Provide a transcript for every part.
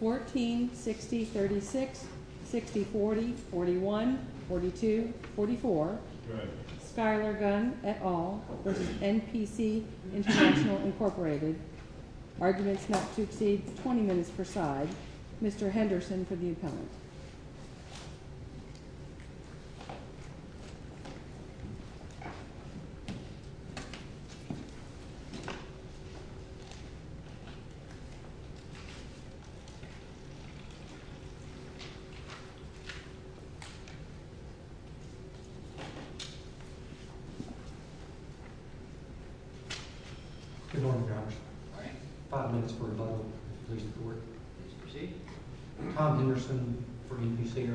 Inc. Arguments not to exceed 20 minutes per side. Mr. Henderson for the appellant. Good morning, Your Honor. Five minutes for rebuttal. Please proceed. Tom Henderson for NPC.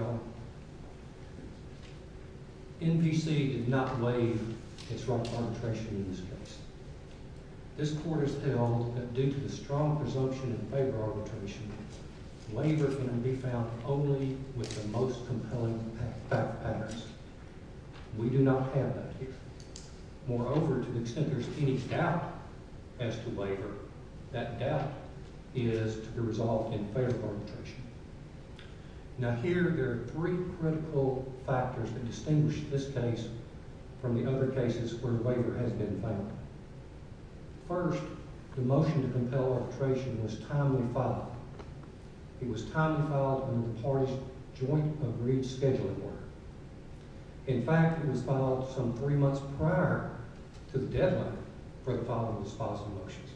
NPC did not waive its wrongful arbitration in this case. This court has held that due to the strong presumption in favor arbitration, labor can be found only with the most compelling fact patterns. We do not have that here. Moreover, to the extent there is any doubt as to labor, that doubt is to be resolved in favor arbitration. Now here there are three critical factors that distinguish this case from the other cases where labor has been found. First, the motion to compel arbitration was timely filed. It was timely filed under the parties' joint agreed scheduling order. In fact, it was filed some three months prior to the deadline for the filing of the dispositive motions.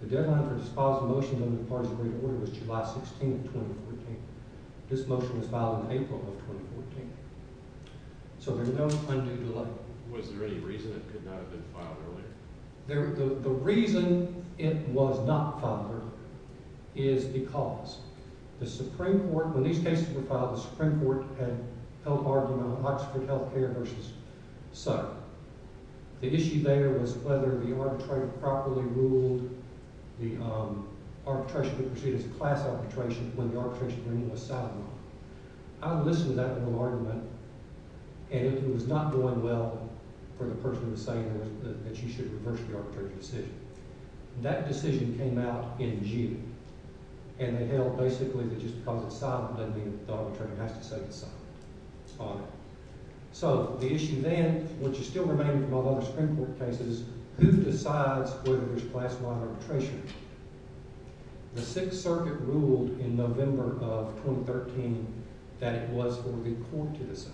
The deadline for dispositive motions under the parties' agreed order was July 16, 2014. This motion was filed in April of 2014. So there's no undue delay. Was there any reason it could not have been filed earlier? The reason it was not filed earlier is because the Supreme Court, when these cases were filed, the Supreme Court had held argument on Oxford Health Care versus Sutter. The issue there was whether the arbitrator properly ruled the arbitration to proceed as a class arbitration when the arbitration agreement was sidelined. I listened to that little argument, and if it was not going well for the person who was saying that you should reverse the arbitration decision, that decision came out in June. And they held basically that just because it's silent doesn't mean that the arbitrator has to say it's silent on it. So the issue then, which is still remaining from all other Supreme Court cases, who decides whether there's class-wide arbitration? The Sixth Circuit ruled in November of 2013 that it was for the court to decide.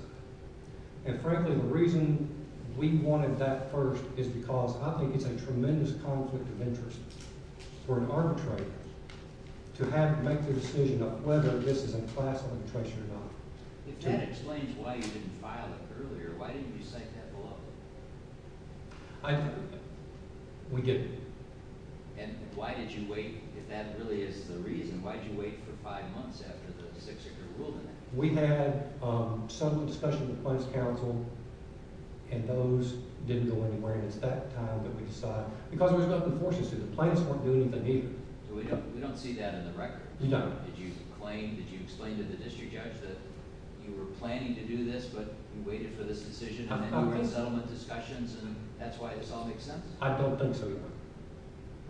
And frankly, the reason we wanted that first is because I think it's a tremendous conflict of interest for an arbitrator to have to make the decision of whether this is a class arbitration or not. If that explains why you didn't file it earlier, why didn't you say that below? I think we did. And why did you wait? If that really is the reason, why did you wait for five months after the Sixth Circuit ruled in that? We had some discussion with the Plaintiffs' Council, and those didn't go anywhere. And it's that time that we decided – because there was no confortions to it. The plaintiffs weren't doing anything either. We don't see that in the record. We don't. Did you claim, did you explain to the district judge that you were planning to do this, but you waited for this decision, and then you were in settlement? I don't think so, Your Honor.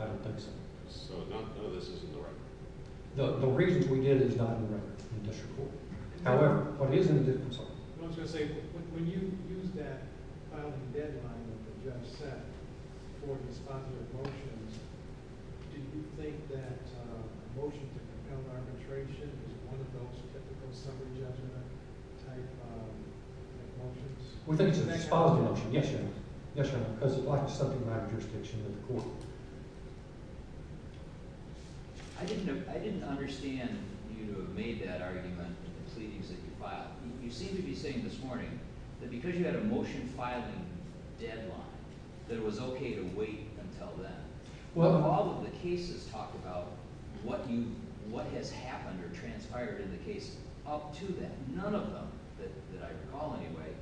I don't think so. So none of this is in the record? The reason we did is not in the record in the district court. However, what is in the district court? I was going to say, when you used that filing deadline that the judge set for these popular motions, do you think that a motion to compel arbitration is one of those typical summary judgment-type motions? We think it's a dispositive motion, yes, Your Honor. Yes, Your Honor, because it lacks something of that jurisdiction in the court. I didn't understand you to have made that argument in the pleadings that you filed. You seem to be saying this morning that because you had a motion filing deadline, that it was okay to wait until then. All of the cases talk about what has happened or transpired in the case. None of them, that I recall anyway,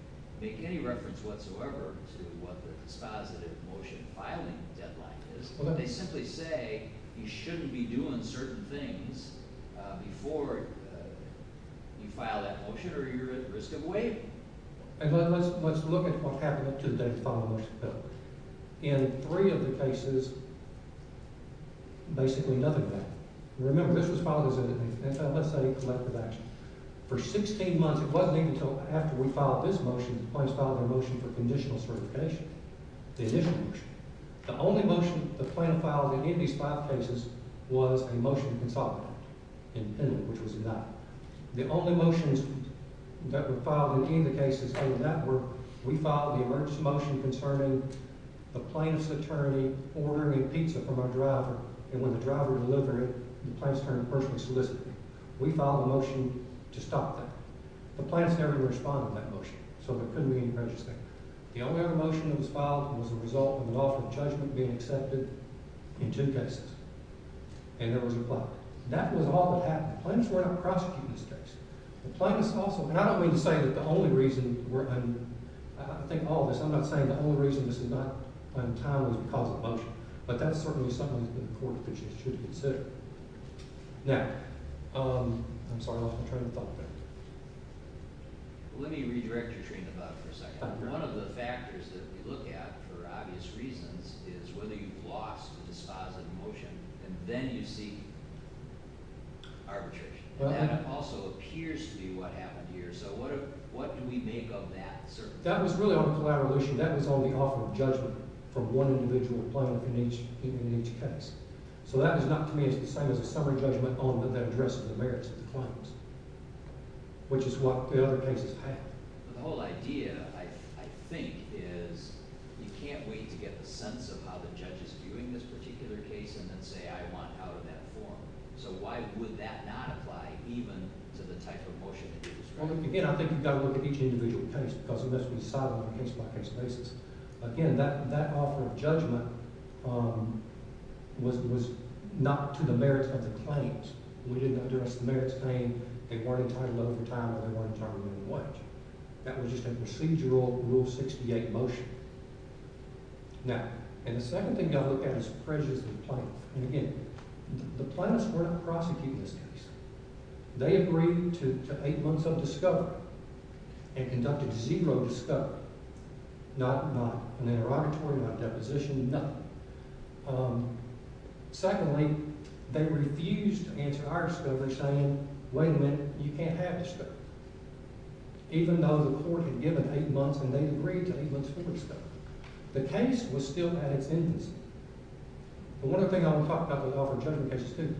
make any reference whatsoever to what the dispositive motion filing deadline is. They simply say you shouldn't be doing certain things before you file that motion or you're at risk of waiting. Let's look at what happened up to the day following the deadline. In three of the cases, basically nothing happened. Remember, this was filed as an NSA collective action. For 16 months, it wasn't even until after we filed this motion that the plaintiffs filed their motion for conditional certification. The initial motion. The only motion the plaintiff filed in any of these five cases was a motion to consolidate, independent, which was denied. The only motions that were filed in any of the cases in that were, we filed the emergency motion concerning the plaintiff's attorney ordering a pizza from our driver, and when the driver delivered it, the plaintiff's attorney personally solicited me. We filed a motion to stop that. The plaintiffs never responded to that motion, so there couldn't be any prejudice there. The only other motion that was filed was the result of an offer of judgment being accepted in two cases. And there was a plot. That was all that happened. The plaintiffs were not prosecuting this case. The plaintiffs also, and I don't mean to say that the only reason we're, and I think all of this, I'm not saying the only reason this is not untimely is because of the motion, but that's certainly something that the court should consider. Now, I'm sorry, I lost my train of thought there. Let me redirect your train of thought for a second. One of the factors that we look at for obvious reasons is whether you've lost a dispositive motion, and then you see arbitration. That also appears to be what happened here, so what do we make of that circumstance? That was really on a collaboration. That was on the offer of judgment from one individual plaintiff in each case. So that is not to me the same as a summary judgment on the address of the merits of the claims, which is what the other cases have. The whole idea, I think, is you can't wait to get the sense of how the judge is viewing this particular case and then say, I want out of that form. So why would that not apply even to the type of motion that you described? Again, I think you've got to look at each individual case because it must be decided on a case-by-case basis. Again, that offer of judgment was not to the merits of the claims. We didn't address the merits claim. They weren't entitled over time or they weren't entitled in what. That was just a procedural Rule 68 motion. Now, and the second thing you've got to look at is prejudice of the plaintiff. And again, the plaintiffs were not prosecuting this case. They agreed to eight months of discovery and conducted zero discovery. Not an interrogatory, not a deposition, nothing. Secondly, they refused to answer our discovery saying, wait a minute, you can't have discovery. Even though the court had given eight months and they agreed to eight months full discovery. The case was still at its infancy. But one of the things I want to talk about with the offer of judgment cases too,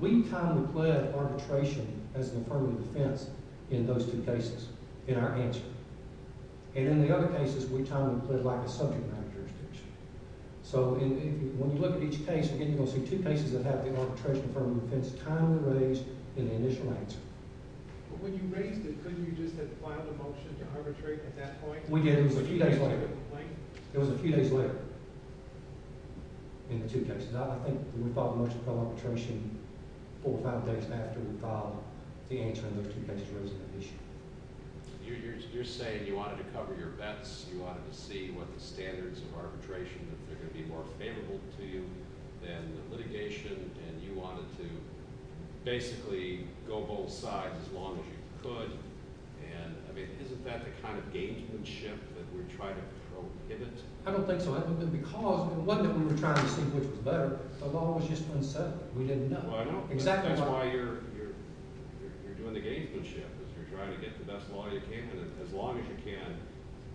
we kind of pled arbitration as the affirmative defense in those two cases in our answer. And in the other cases, we kind of pled like a subject matter jurisdiction. So when you look at each case, again, you're going to see two cases that have the arbitration affirmative defense timely raised in the initial answer. But when you raised it, couldn't you just have filed a motion to arbitrate at that point? We did. It was a few days later. It was a few days later in the two cases. I think we filed a motion for arbitration four or five days after we filed the answer in those two cases. You're saying you wanted to cover your bets. You wanted to see what the standards of arbitration that are going to be more favorable to you than litigation. And you wanted to basically go both sides as long as you could. I mean, isn't that the kind of gaugemanship that we're trying to prohibit? I don't think so. Because it wasn't that we were trying to see which was better. The law was just unsettled. We didn't know. Well, I don't think that's why you're doing the gaugemanship. You're trying to get the best law you can as long as you can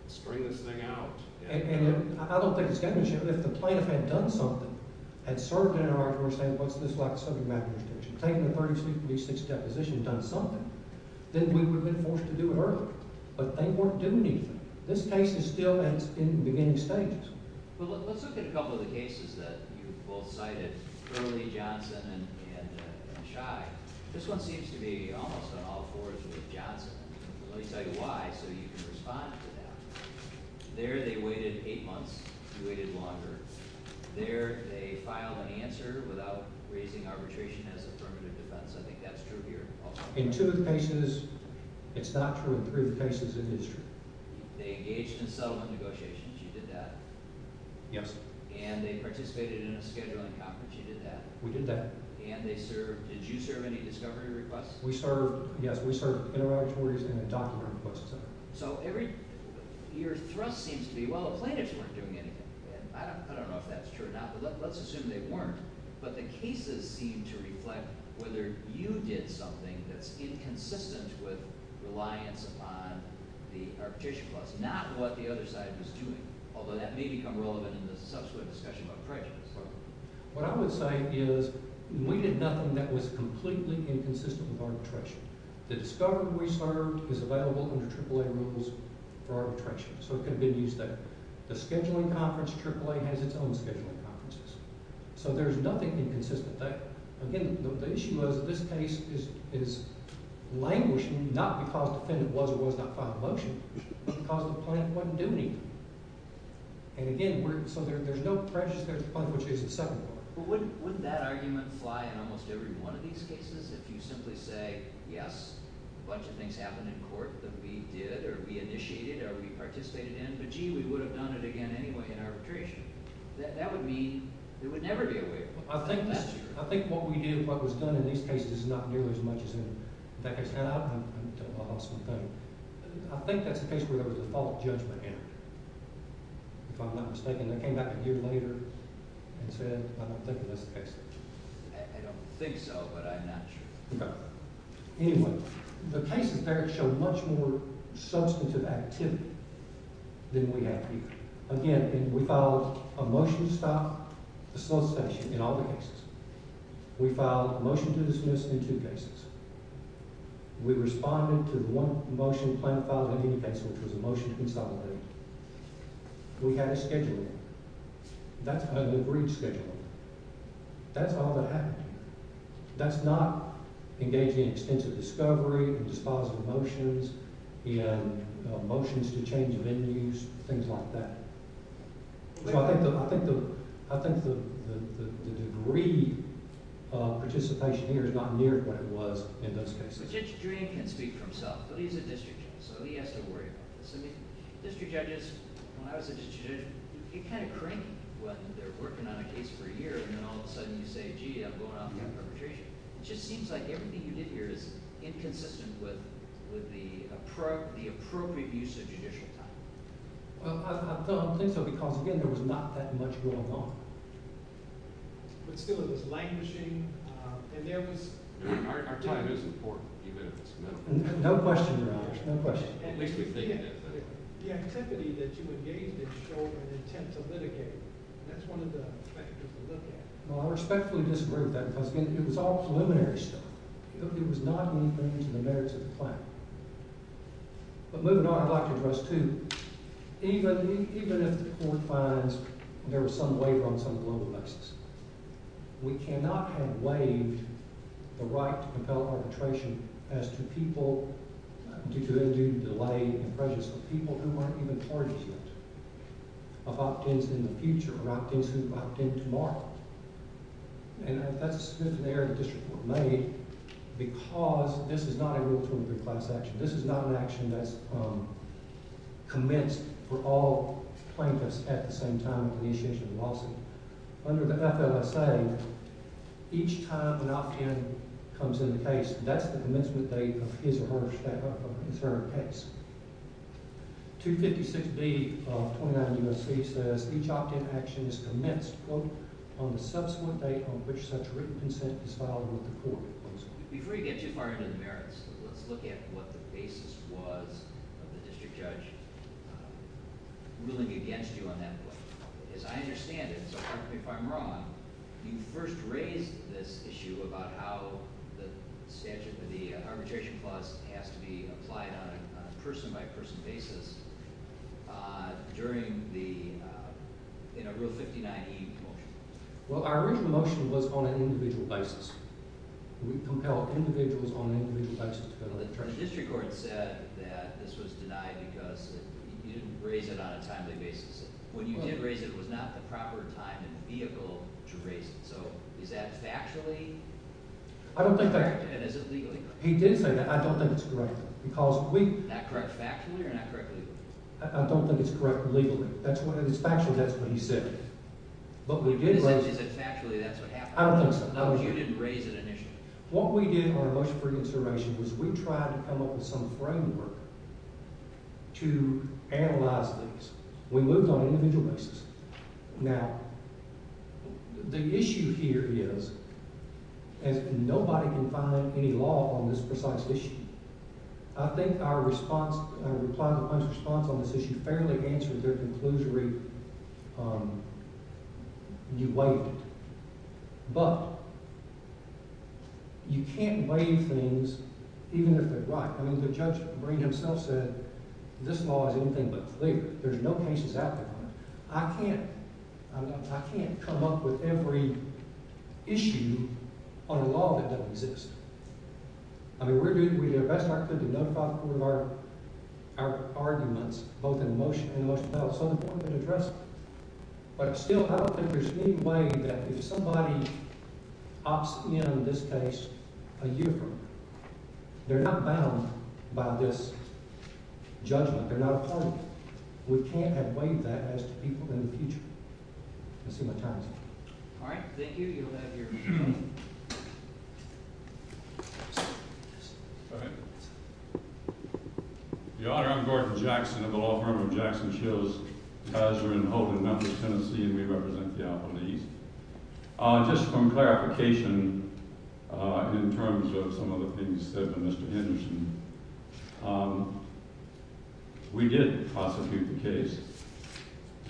spring this thing out. I don't think it's gaugemanship. If the plaintiff had done something, had served in an arbitration, what's this like a subject matter jurisdiction? If the plaintiff had taken the 36th deposition and done something, then we would have been forced to do it earlier. But they weren't doing anything. This case is still in the beginning stages. Well, let's look at a couple of the cases that you've both cited, Hurley, Johnson, and Shai. This one seems to be almost on all fours with Johnson. Let me tell you why so you can respond to that. There they waited eight months. You waited longer. There they filed an answer without raising arbitration as affirmative defense. I think that's true here. In two of the cases, it's not true. In three of the cases, it is true. They engaged in settlement negotiations. You did that. Yes. And they participated in a scheduling conference. You did that. We did that. And they served. Did you serve any discovery requests? We served. Yes, we served interrogatories and a document request, et cetera. So your thrust seems to be, well, the plaintiffs weren't doing anything. And I don't know if that's true or not, but let's assume they weren't. But the cases seem to reflect whether you did something that's inconsistent with reliance upon the arbitration clause, not what the other side was doing, although that may become relevant in the subsequent discussion about prejudice. Right. What I would say is we did nothing that was completely inconsistent with arbitration. The discovery we served is available under AAA rules for arbitration, so it can be used there. The scheduling conference, AAA, has its own scheduling conferences. So there's nothing inconsistent. Again, the issue is that this case is languishing not because the defendant was or was not filing a motion, but because the plaintiff wasn't doing anything. And, again, so there's no prejudice against the plaintiff, which is its second part. But wouldn't that argument fly in almost every one of these cases? If you simply say, yes, a bunch of things happened in court that we did or we initiated or we participated in, but, gee, we would have done it again anyway in arbitration, that would mean there would never be a waiver. That's true. I think what we do, what was done in these cases, is not nearly as much as in that case. And I'll tell you an awesome thing. I think that's the case where there was a false judgment in it, if I'm not mistaken. They came back a year later and said, I don't think that's the case. I don't think so, but I'm not sure. Anyway, the cases there show much more substantive activity than we have here. Again, we filed a motion to stop the slow session in all the cases. We filed a motion to dismiss in two cases. We responded to the one motion the plaintiff filed in any case, which was a motion to consolidate. We had a schedule. That's an agreed schedule. That's all that happened. That's not engaging in extensive discovery and disposing of motions and motions to change venues, things like that. So I think the degree of participation here is not near what it was in those cases. The district jury can speak for himself, but he's a district judge, so he has to worry about this. I mean, district judges, when I was a district judge, you're kind of cranky when they're working on a case for a year and then all of a sudden you say, gee, I'm going on to have perpetration. It just seems like everything you did here is inconsistent with the appropriate use of judicial time. Well, I think so because, again, there was not that much going on. But still it was languishing, and there was – Our time is important, even if it's not. No question, Raj. No question. At least we think it is. The activity that you engaged in showed an intent to litigate. That's one of the factors to look at. Well, I respectfully disagree with that because, again, it was all preliminary stuff. It was not moving to the merits of the plan. But moving on, I'd like to address two. Even if the court finds there was some waiver on some global basis, we cannot have waived the right to compel arbitration as to people due to end-due delay and prejudice, of people who aren't even parties yet, of opt-ins in the future, or opt-ins who opt-in tomorrow. And that's a scintillating error that this report made because this is not a rule-of-three-class action. This is not an action that's commenced for all plaintiffs at the same time for the initiation of a lawsuit. Under the FLSA, each time an opt-in comes in the case, that's the commencement date of his or her case. 256B of 29 U.S.C. says each opt-in action is commenced, quote, on the subsequent date on which such written consent is filed with the court. Before you get too far into the merits, let's look at what the basis was of the district judge ruling against you on that point. As I understand it, so pardon me if I'm wrong, you first raised this issue about how the statute, the arbitration clause has to be applied on a person-by-person basis during the, in a Rule 59E motion. Well, our original motion was on an individual basis. We compelled individuals on an individual basis to file their charges. The district court said that this was denied because you didn't raise it on a timely basis. When you did raise it, it was not the proper time and vehicle to raise it. So is that factually correct, and is it legally correct? He did say that. I don't think it's correct. Not correct factually or not correct legally? I don't think it's correct legally. If it's factually, that's what he said. But we did raise it. Is it factually that's what happened? I don't think so. No, but you didn't raise it initially. What we did in our motion for reconsideration was we tried to come up with some framework to analyze this. We moved on individual basis. Now, the issue here is that nobody can find any law on this precise issue. I think our response, our reply to the court's response on this issue fairly answers their conclusory, you waived it. But you can't waive things even if they're right. I mean, the judge himself said this law is anything but clear. There's no cases out there on it. I can't come up with every issue on a law that doesn't exist. I mean, we're doing our best in our community to notify the court of our arguments, both in motion and in motion of battle. It's so important to address it. But still, I don't think there's any way that if somebody opts in on this case a year from now, they're not bound by this judgment. They're not appointed. We can't have waived that as to people in the future. Let's see what time is it. All right. Thank you. You'll have your microphone. Your Honor, I'm Gordon Jackson of the law firm of Jackson, Shills, Tazer, and Houghton Memphis, Tennessee, and we represent the Alpha Leagues. Just some clarification in terms of some of the things said by Mr. Henderson. We did prosecute the case.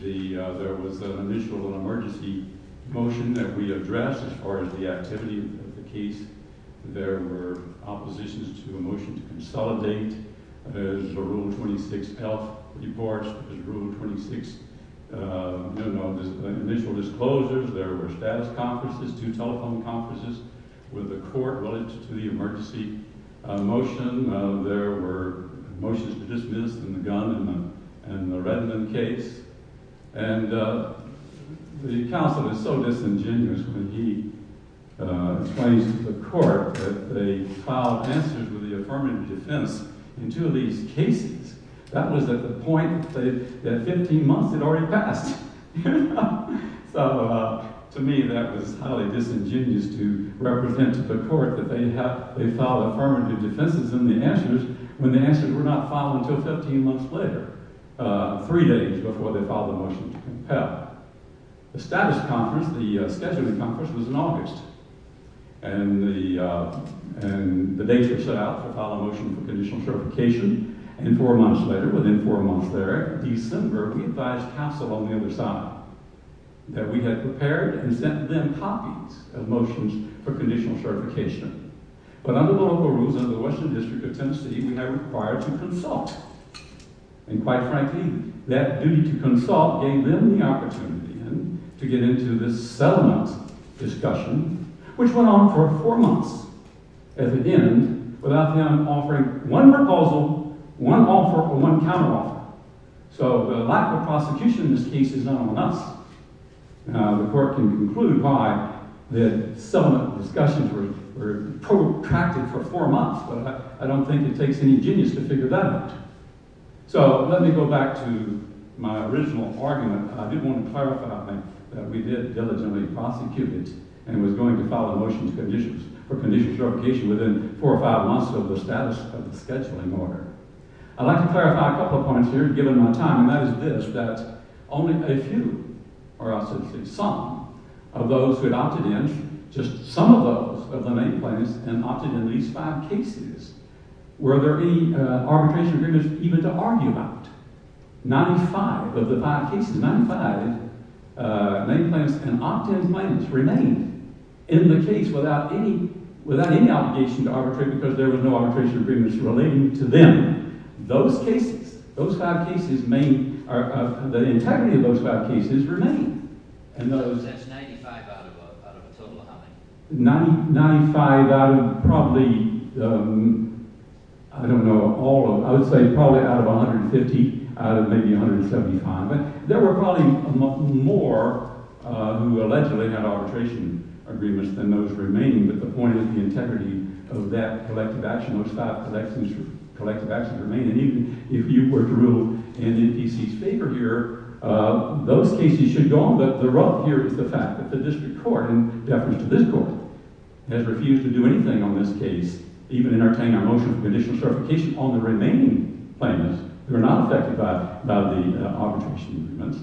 There was an initial emergency motion that we addressed as far as the activity of the case. There were oppositions to a motion to consolidate. There's a Rule 26 health report. There's Rule 26 initial disclosures. There were status conferences, two telephone conferences with the court related to the emergency motion. There were motions to dismiss the gun in the Redmond case. And the counsel is so disingenuous when he explains to the court that they filed answers with the affirmative defense in two of these cases. That was at the point that 15 months had already passed. So to me, that was highly disingenuous to represent to the court that they filed affirmative defenses in the answers when the answers were not filed until 15 months later, three days before they filed the motion to compel. The status conference, the scheduling conference, was in August. And the dates were set out to file a motion for conditional certification. And four months later, within four months there, December, we advised counsel on the other side that we had prepared and sent them copies of motions for conditional certification. But under the local rules, under the Western District of Tennessee, we have required to consult. And quite frankly, that duty to consult gave them the opportunity to get into this settlement discussion, which went on for four months. At the end, without them offering one proposal, one offer, or one counteroffer. So the lack of prosecution in this case is not on us. The court can conclude why the settlement discussions were protracted for four months, but I don't think it takes any genius to figure that out. So let me go back to my original argument. I did want to clarify, I think, that we did diligently prosecute it, and it was going to file a motion for conditional certification within four or five months of the status of the scheduling order. I'd like to clarify a couple of points here, given my time. And that is this, that only a few, or I should say some, of those who had opted in, just some of those of the main plaintiffs, had opted in these five cases. Were there any arbitration agreements even to argue about? 95 of the five cases, 95 main plaintiffs and opt-in plaintiffs remained in the case without any obligation to arbitrate because there were no arbitration agreements relating to them. Those cases, those five cases, the integrity of those five cases remained. So that's 95 out of a total of how many? 95 out of probably – I don't know all of them. I would say probably out of 150, out of maybe 175. But there were probably more who allegedly had arbitration agreements than those remaining, but the point is the integrity of that collective action, those five collective actions remained. And even if you were to rule in D.C.'s favor here, those cases should go on. But the rub here is the fact that the district court, in deference to this court, has refused to do anything on this case, even in our motion for conditional certification on the remaining plaintiffs who are not affected by the arbitration agreements.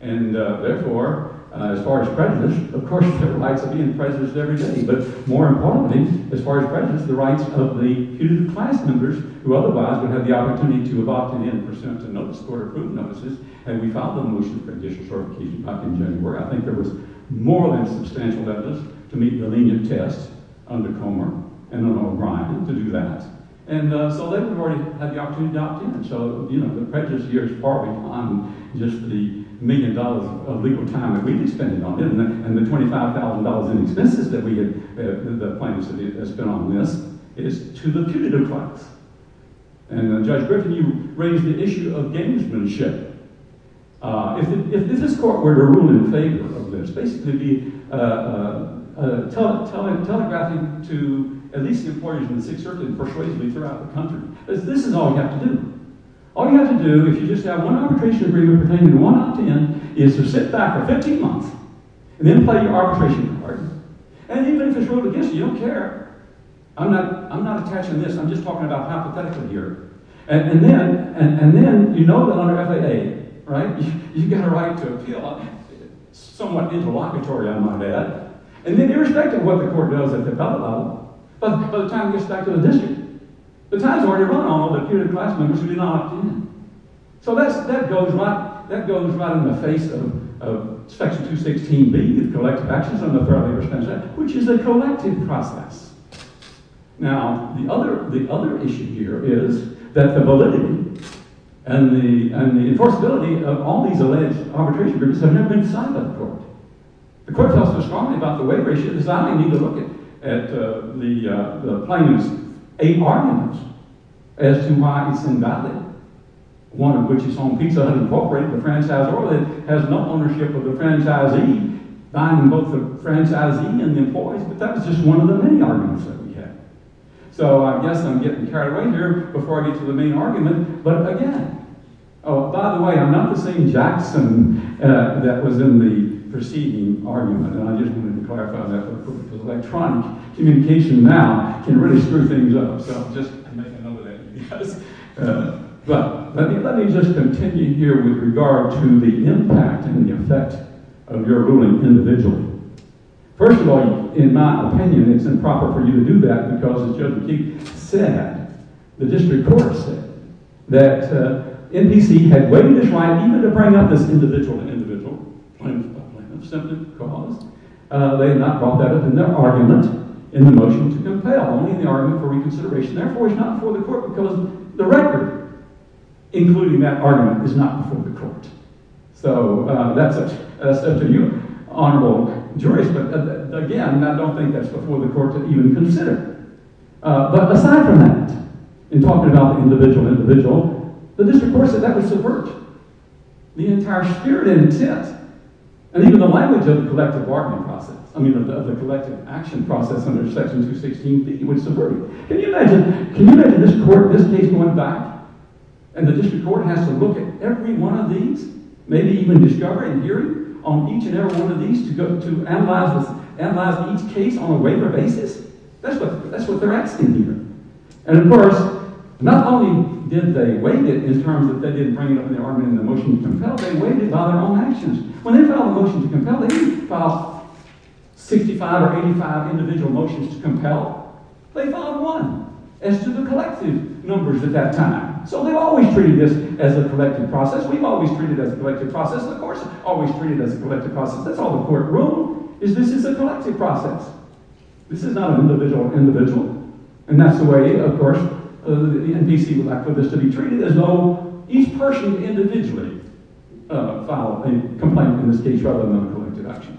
And therefore, as far as prejudice, of course there were rights of being prejudiced every day. But more importantly, as far as prejudice, the rights of the huge class members who otherwise would have the opportunity to have opted in for sentencing notices or recruitment notices had we filed the motion for conditional certification back in January. I think there was more or less substantial evidence to meet the lenient tests under Comer and then O'Brien to do that. And so they would have already had the opportunity to opt in. And so the prejudice here is partly on just the million dollars of legal time that we'd be spending on it and the $25,000 in expenses that we get – the plaintiffs that spend on this. It is to the punitive class. And Judge Griffin, you raised the issue of gamesmanship. If this court were to rule in favor of this, basically it would be telegraphing to at least the employees in the Sixth Circuit persuasively throughout the country. Because this is all you have to do. All you have to do, if you just have one arbitration agreement pertaining to one opt-in, is to sit back for 15 months and then play your arbitration cards. And even if it's ruled against you, you don't care. I'm not attaching this. I'm just talking about hypothetical here. And then you know that under FAA, you've got a right to appeal somewhat interlocutory, I might add. And then irrespective of what the court does at the bailout, by the time it gets back to the district, the time's already run on all the punitive class members who did not opt in. So that goes right in the face of Section 216B, the collective actions under the Fair Labor Standards Act, which is a collective process. Now, the other issue here is that the validity and the enforceability of all these alleged arbitration agreements have never been signed by the court. The court tells us strongly about the waiver issue. At the plaintiffs, eight arguments as to why it's invalid. One of which is on Pizza Hut Incorporated, the franchisee has no ownership of the franchisee, buying both the franchisee and the employees. But that was just one of the many arguments that we had. So I guess I'm getting carried away here before I get to the main argument. But again, oh, by the way, I'm not the same Jackson that was in the preceding argument. And I just wanted to clarify that, because electronic communication now can really screw things up. So I'm just making a note of that. But let me just continue here with regard to the impact and the effect of your ruling individually. First of all, in my opinion, it's improper for you to do that, because as Judge McKeague said, the district court said, that NBC had waived its right even to bring up this individual to individual plaintiff by plaintiff simply because they had not brought that up in their argument in the motion to compel, only in the argument for reconsideration. Therefore, it's not before the court, because the record including that argument is not before the court. So that's up to you, honorable jurist. But again, I don't think that's before the court to even consider. But aside from that, in talking about the individual individual, the district court said that was subvert. The entire spirit and intent, and even the language of the collective argument process, I mean, of the collective action process under Section 216, that you would subvert. Can you imagine this case going back, and the district court has to look at every one of these, maybe even discover and hear it on each and every one of these to analyze each case on a waiver basis? That's what they're asking here. And of course, not only did they waive it in terms that they didn't bring it up in their argument in the motion to compel, they waived it by their own actions. When they filed a motion to compel, they didn't file 65 or 85 individual motions to compel. They filed one as to the collective numbers at that time. So they've always treated this as a collective process. We've always treated it as a collective process. And of course, always treated it as a collective process. That's all the court ruled, is this is a collective process. This is not an individual individual. And that's the way, of course, the NPC would like for this to be treated, as though each person individually filed a complaint in this case rather than a collective action.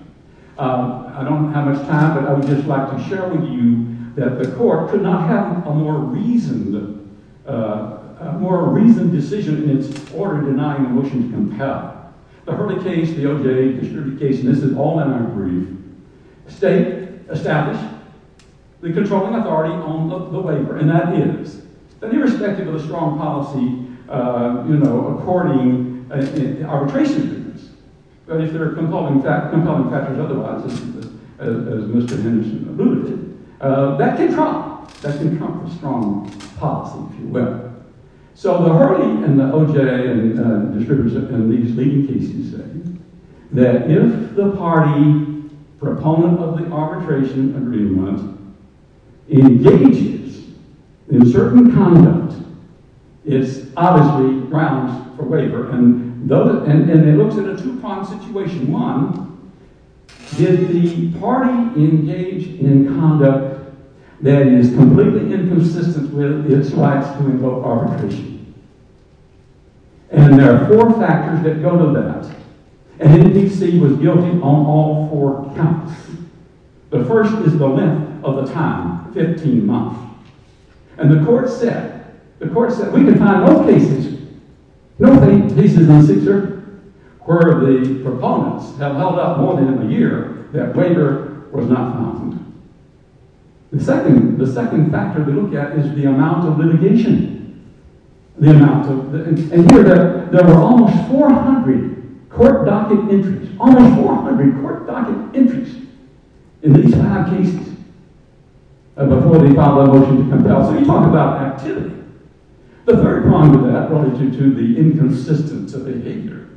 I don't have much time, but I would just like to share with you that the court could not have a more reasoned decision in its order denying a motion to compel. The Hurley case, the OJ case, and this is all that I'm going to read, state established the controlling authority on the waiver. And that is that irrespective of the strong policy, you know, according to arbitration agreements, but if they're compelling factors otherwise, as Mr. Henderson alluded to, that can trump a strong policy, if you will. So the Hurley and the OJ distributors in these leading cases say that if the party proponent of the arbitration agreement engages in certain conduct, it's obviously grounds for waiver. And it looks at a two-pronged situation. One, if the party engaged in conduct that is completely inconsistent with its rights to invoke arbitration. And there are four factors that go to that. And the NPC was guilty on all four counts. The first is the length of the time, 15 months. And the court said, the court said, we can find both cases. No cases in Caesar where the proponents have held up more than a year that waiver was not found. The second, the second factor to look at is the amount of litigation. The amount of litigation. And here there were almost 400 court docket entries, almost 400 court docket entries in these five cases before they filed that motion to compel. So you talk about activity. The third prong of that relative to the inconsistence of behavior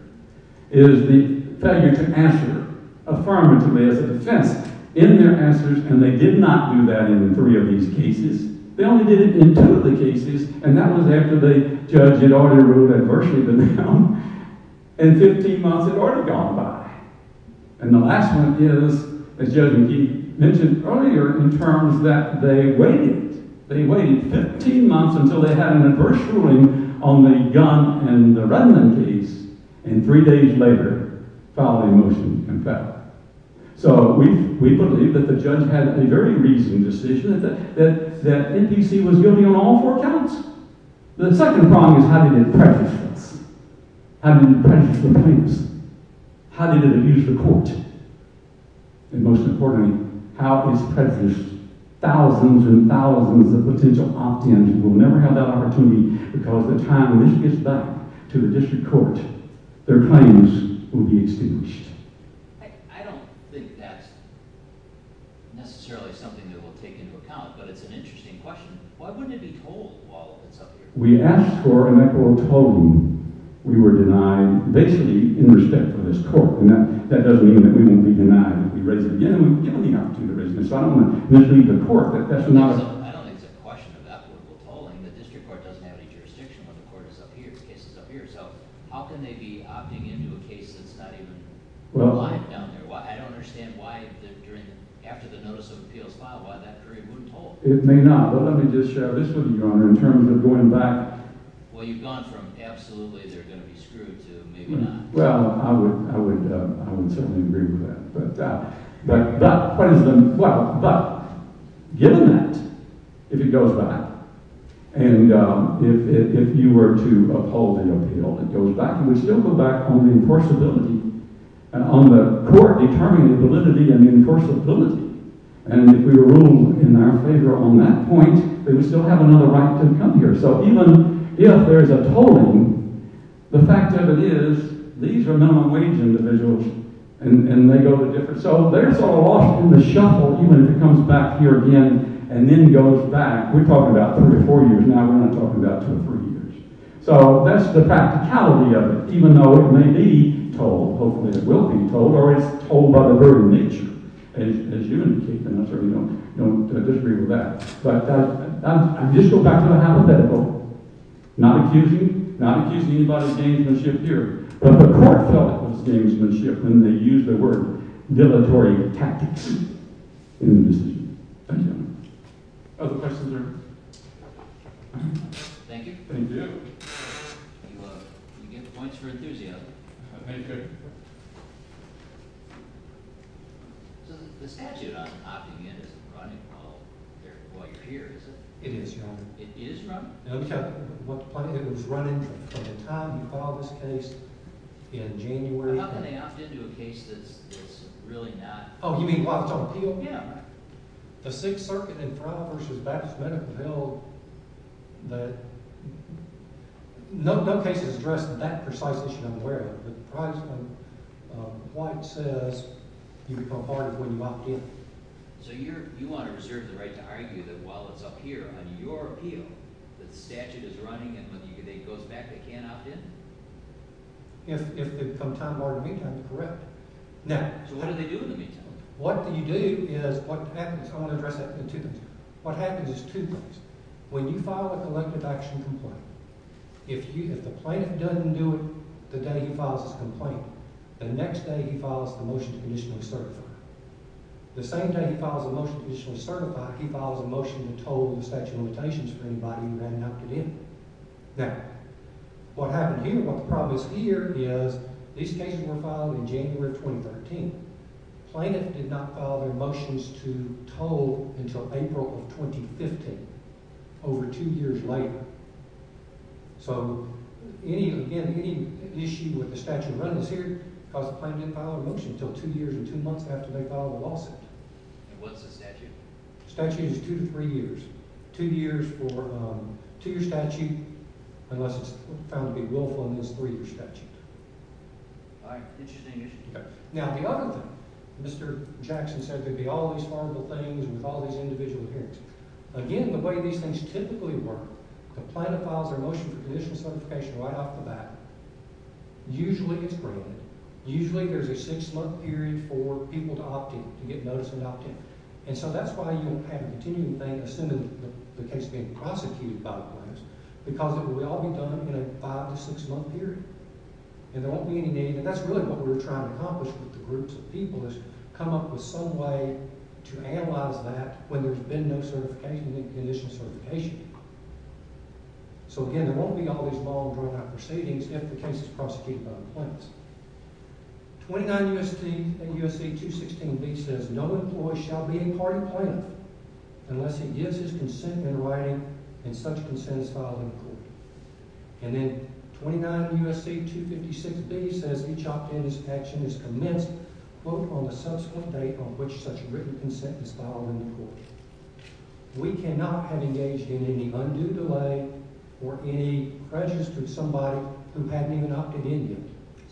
is the failure to answer affirmatively as a defense in their answers. And they did not do that in three of these cases. They only did it in two of the cases. And that was after the judge had already ruled adversely of the noun. And 15 months had already gone by. And the last one is, as Judge McGee mentioned earlier, in terms that they waited. They waited 15 months until they had an adverse ruling on the Gunn and the Redlund case. And three days later, filed a motion to compel. So we believe that the judge had a very reasonable decision that NBC was guilty on all four counts. The second prong is how did it prejudice us? How did it prejudice the plaintiffs? How did it abuse the court? And most importantly, how is prejudice thousands and thousands of potential opt-ins who will never have that opportunity because the time when this gets back to the district court, their claims will be extinguished. I don't think that's necessarily something that we'll take into account. But it's an interesting question. Why wouldn't it be told while it's up here? We asked for and I foretold we were denied basically in respect for this court. And that doesn't mean that we won't be denied if we raise it again. And we've given the opportunity to raise it again. So I don't want to mislead the court. I don't think it's a question of equitable tolling. The district court doesn't have any jurisdiction when the court is up here, the case is up here. So how can they be opting into a case that's not even alive down there? I don't understand why after the notice of appeals filed why that jury wouldn't hold. It may not. But let me just share this with you, Your Honor, in terms of going back. Well, you've gone from absolutely they're going to be screwed to maybe not. Well, I would certainly agree with that. But given that, if it goes back, and if you were to uphold the appeal, it goes back, you would still go back on the enforceability, on the court determining validity and enforceability. And if we were ruled in our favor on that point, they would still have another right to come here. So even if there's a tolling, the fact of it is these are minimum wage individuals and they go to different – so there's a loss in the shuffle even if it comes back here again and then goes back. We're talking about three or four years. Now we're going to talk about two or three years. So that's the practicality of it, even though it may be tolled. Hopefully it will be tolled, or it's tolled by the very nature, as you indicate. And I certainly don't disagree with that. But I just go back to my hypothetical. Not accusing anybody of gamesmanship here, but the court felt it was gamesmanship and they used the word dilatory tactics in the decision. Thank you very much. Other questions or – Thank you. Thank you. You get points for enthusiasm. So the statute on opting in isn't running while you're here, is it? It is running. It is running? Okay. It was running from the time you filed this case in January. How can they opt into a case that's really not – Oh, you mean Guadalupe? Yeah, right. The Sixth Circuit in trial versus Baptist-Medical-Ville that – no case is addressed that precisely as you're unaware of. But the prize money, White says, you become part of when you opt in. So you want to reserve the right to argue that while it's up here on your appeal that the statute is running and when it goes back, they can't opt in? If they become time-barred in the meantime, correct. So what do they do in the meantime? What you do is – I want to address that in two things. What happens is two things. When you file a collective action complaint, if the plaintiff doesn't do it the day he files his complaint, the next day he files the motion to conditionally certify. The same day he files a motion to conditionally certify, he files a motion to toll the statute of limitations for anybody who ran and opted in. Now, what happened here, what the problem is here is these cases were filed in January 2013. The plaintiff did not file their motions to toll until April of 2015, over two years later. So, again, any issue with the statute of limits here causes the plaintiff to file a motion until two years and two months after they file the lawsuit. And what's the statute? The statute is two to three years. Two years for a two-year statute unless it's found to be willful in this three-year statute. All right. Interesting issue. Now, the other thing, Mr. Jackson said there'd be all these horrible things with all these individual hearings. Again, the way these things typically work, the plaintiff files their motion for conditional certification right off the bat, usually it's granted. Usually there's a six-month period for people to opt in, to get notice and opt in. And so that's why you have a continuing thing as soon as the case is being prosecuted by the plaintiffs because it will all be done in a five- to six-month period. And there won't be any need. And that's really what we're trying to accomplish with the groups of people is come up with some way to analyze that when there's been no certification, conditional certification. So, again, there won't be all these long, drawn-out proceedings if the case is prosecuted by the plaintiffs. 29 U.S.C. 216b says, No employee shall be a party plaintiff unless he gives his consent in writing, and such consent is filed in court. And then 29 U.S.C. 256b says, Each opt-in action is commenced, quote, on the subsequent date on which such written consent is filed in court. We cannot have engaged in any undue delay or any prejudice to somebody who hadn't even opted in yet.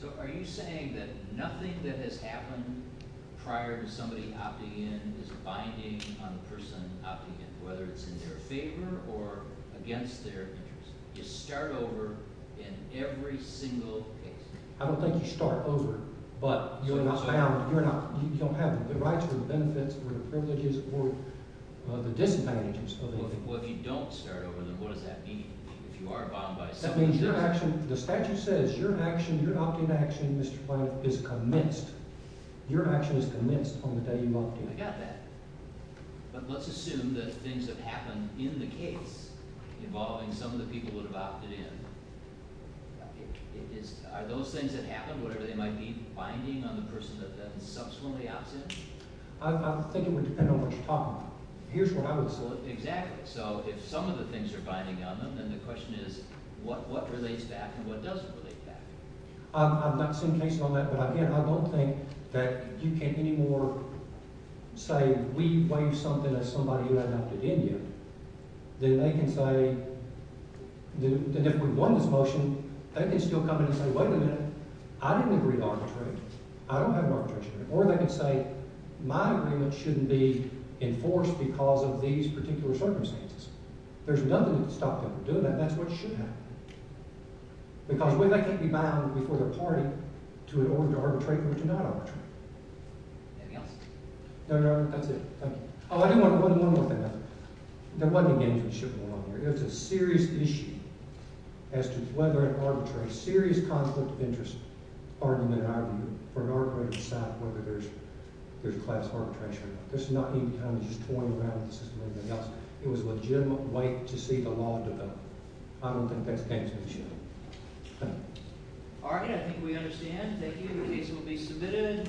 So are you saying that nothing that has happened prior to somebody opting in is binding on the person opting in, whether it's in their favor or against their interest? You start over in every single case. I don't think you start over, but you're not bound. You don't have the rights or the benefits or the privileges or the disadvantages of it. Well, if you don't start over, then what does that mean? If you are bound by some of the jurisdiction... The statute says your opt-in action, Mr. Plante, is commenced. Your action is commenced on the day you opt in. I got that. But let's assume that things have happened in the case involving some of the people who would have opted in. Are those things that happened, whatever they might be, binding on the person that subsequently opts in? I think it would depend on what you're talking about. Here's what I would say. Exactly. So if some of the things are binding on them, then the question is what relates back and what doesn't relate back. I've not seen cases on that, but again, I don't think that you can anymore say, we waived something as somebody who had opted in here. Then they can say that if we won this motion, they can still come in and say, wait a minute, I didn't agree to arbitration. I don't have arbitration. Or they can say, my agreement shouldn't be enforced because of these particular circumstances. There's nothing that can stop people from doing that, and that's what should happen. Because they can't be bound before their party to in order to arbitrate or to not arbitrate. Anything else? No, no, that's it. Oh, I do want to go to one more thing. There wasn't a game-changing shift going on here. It was a serious issue as to whether an arbitrary, serious conflict of interest argument in our view for an arbitrator to decide whether there's class arbitration or not. This is not even kind of just toying around with the system or anything else. It was a legitimate right to see the law develop. I don't think that's a game-changing shift. All right, I think we understand. Thank you. The case will be submitted.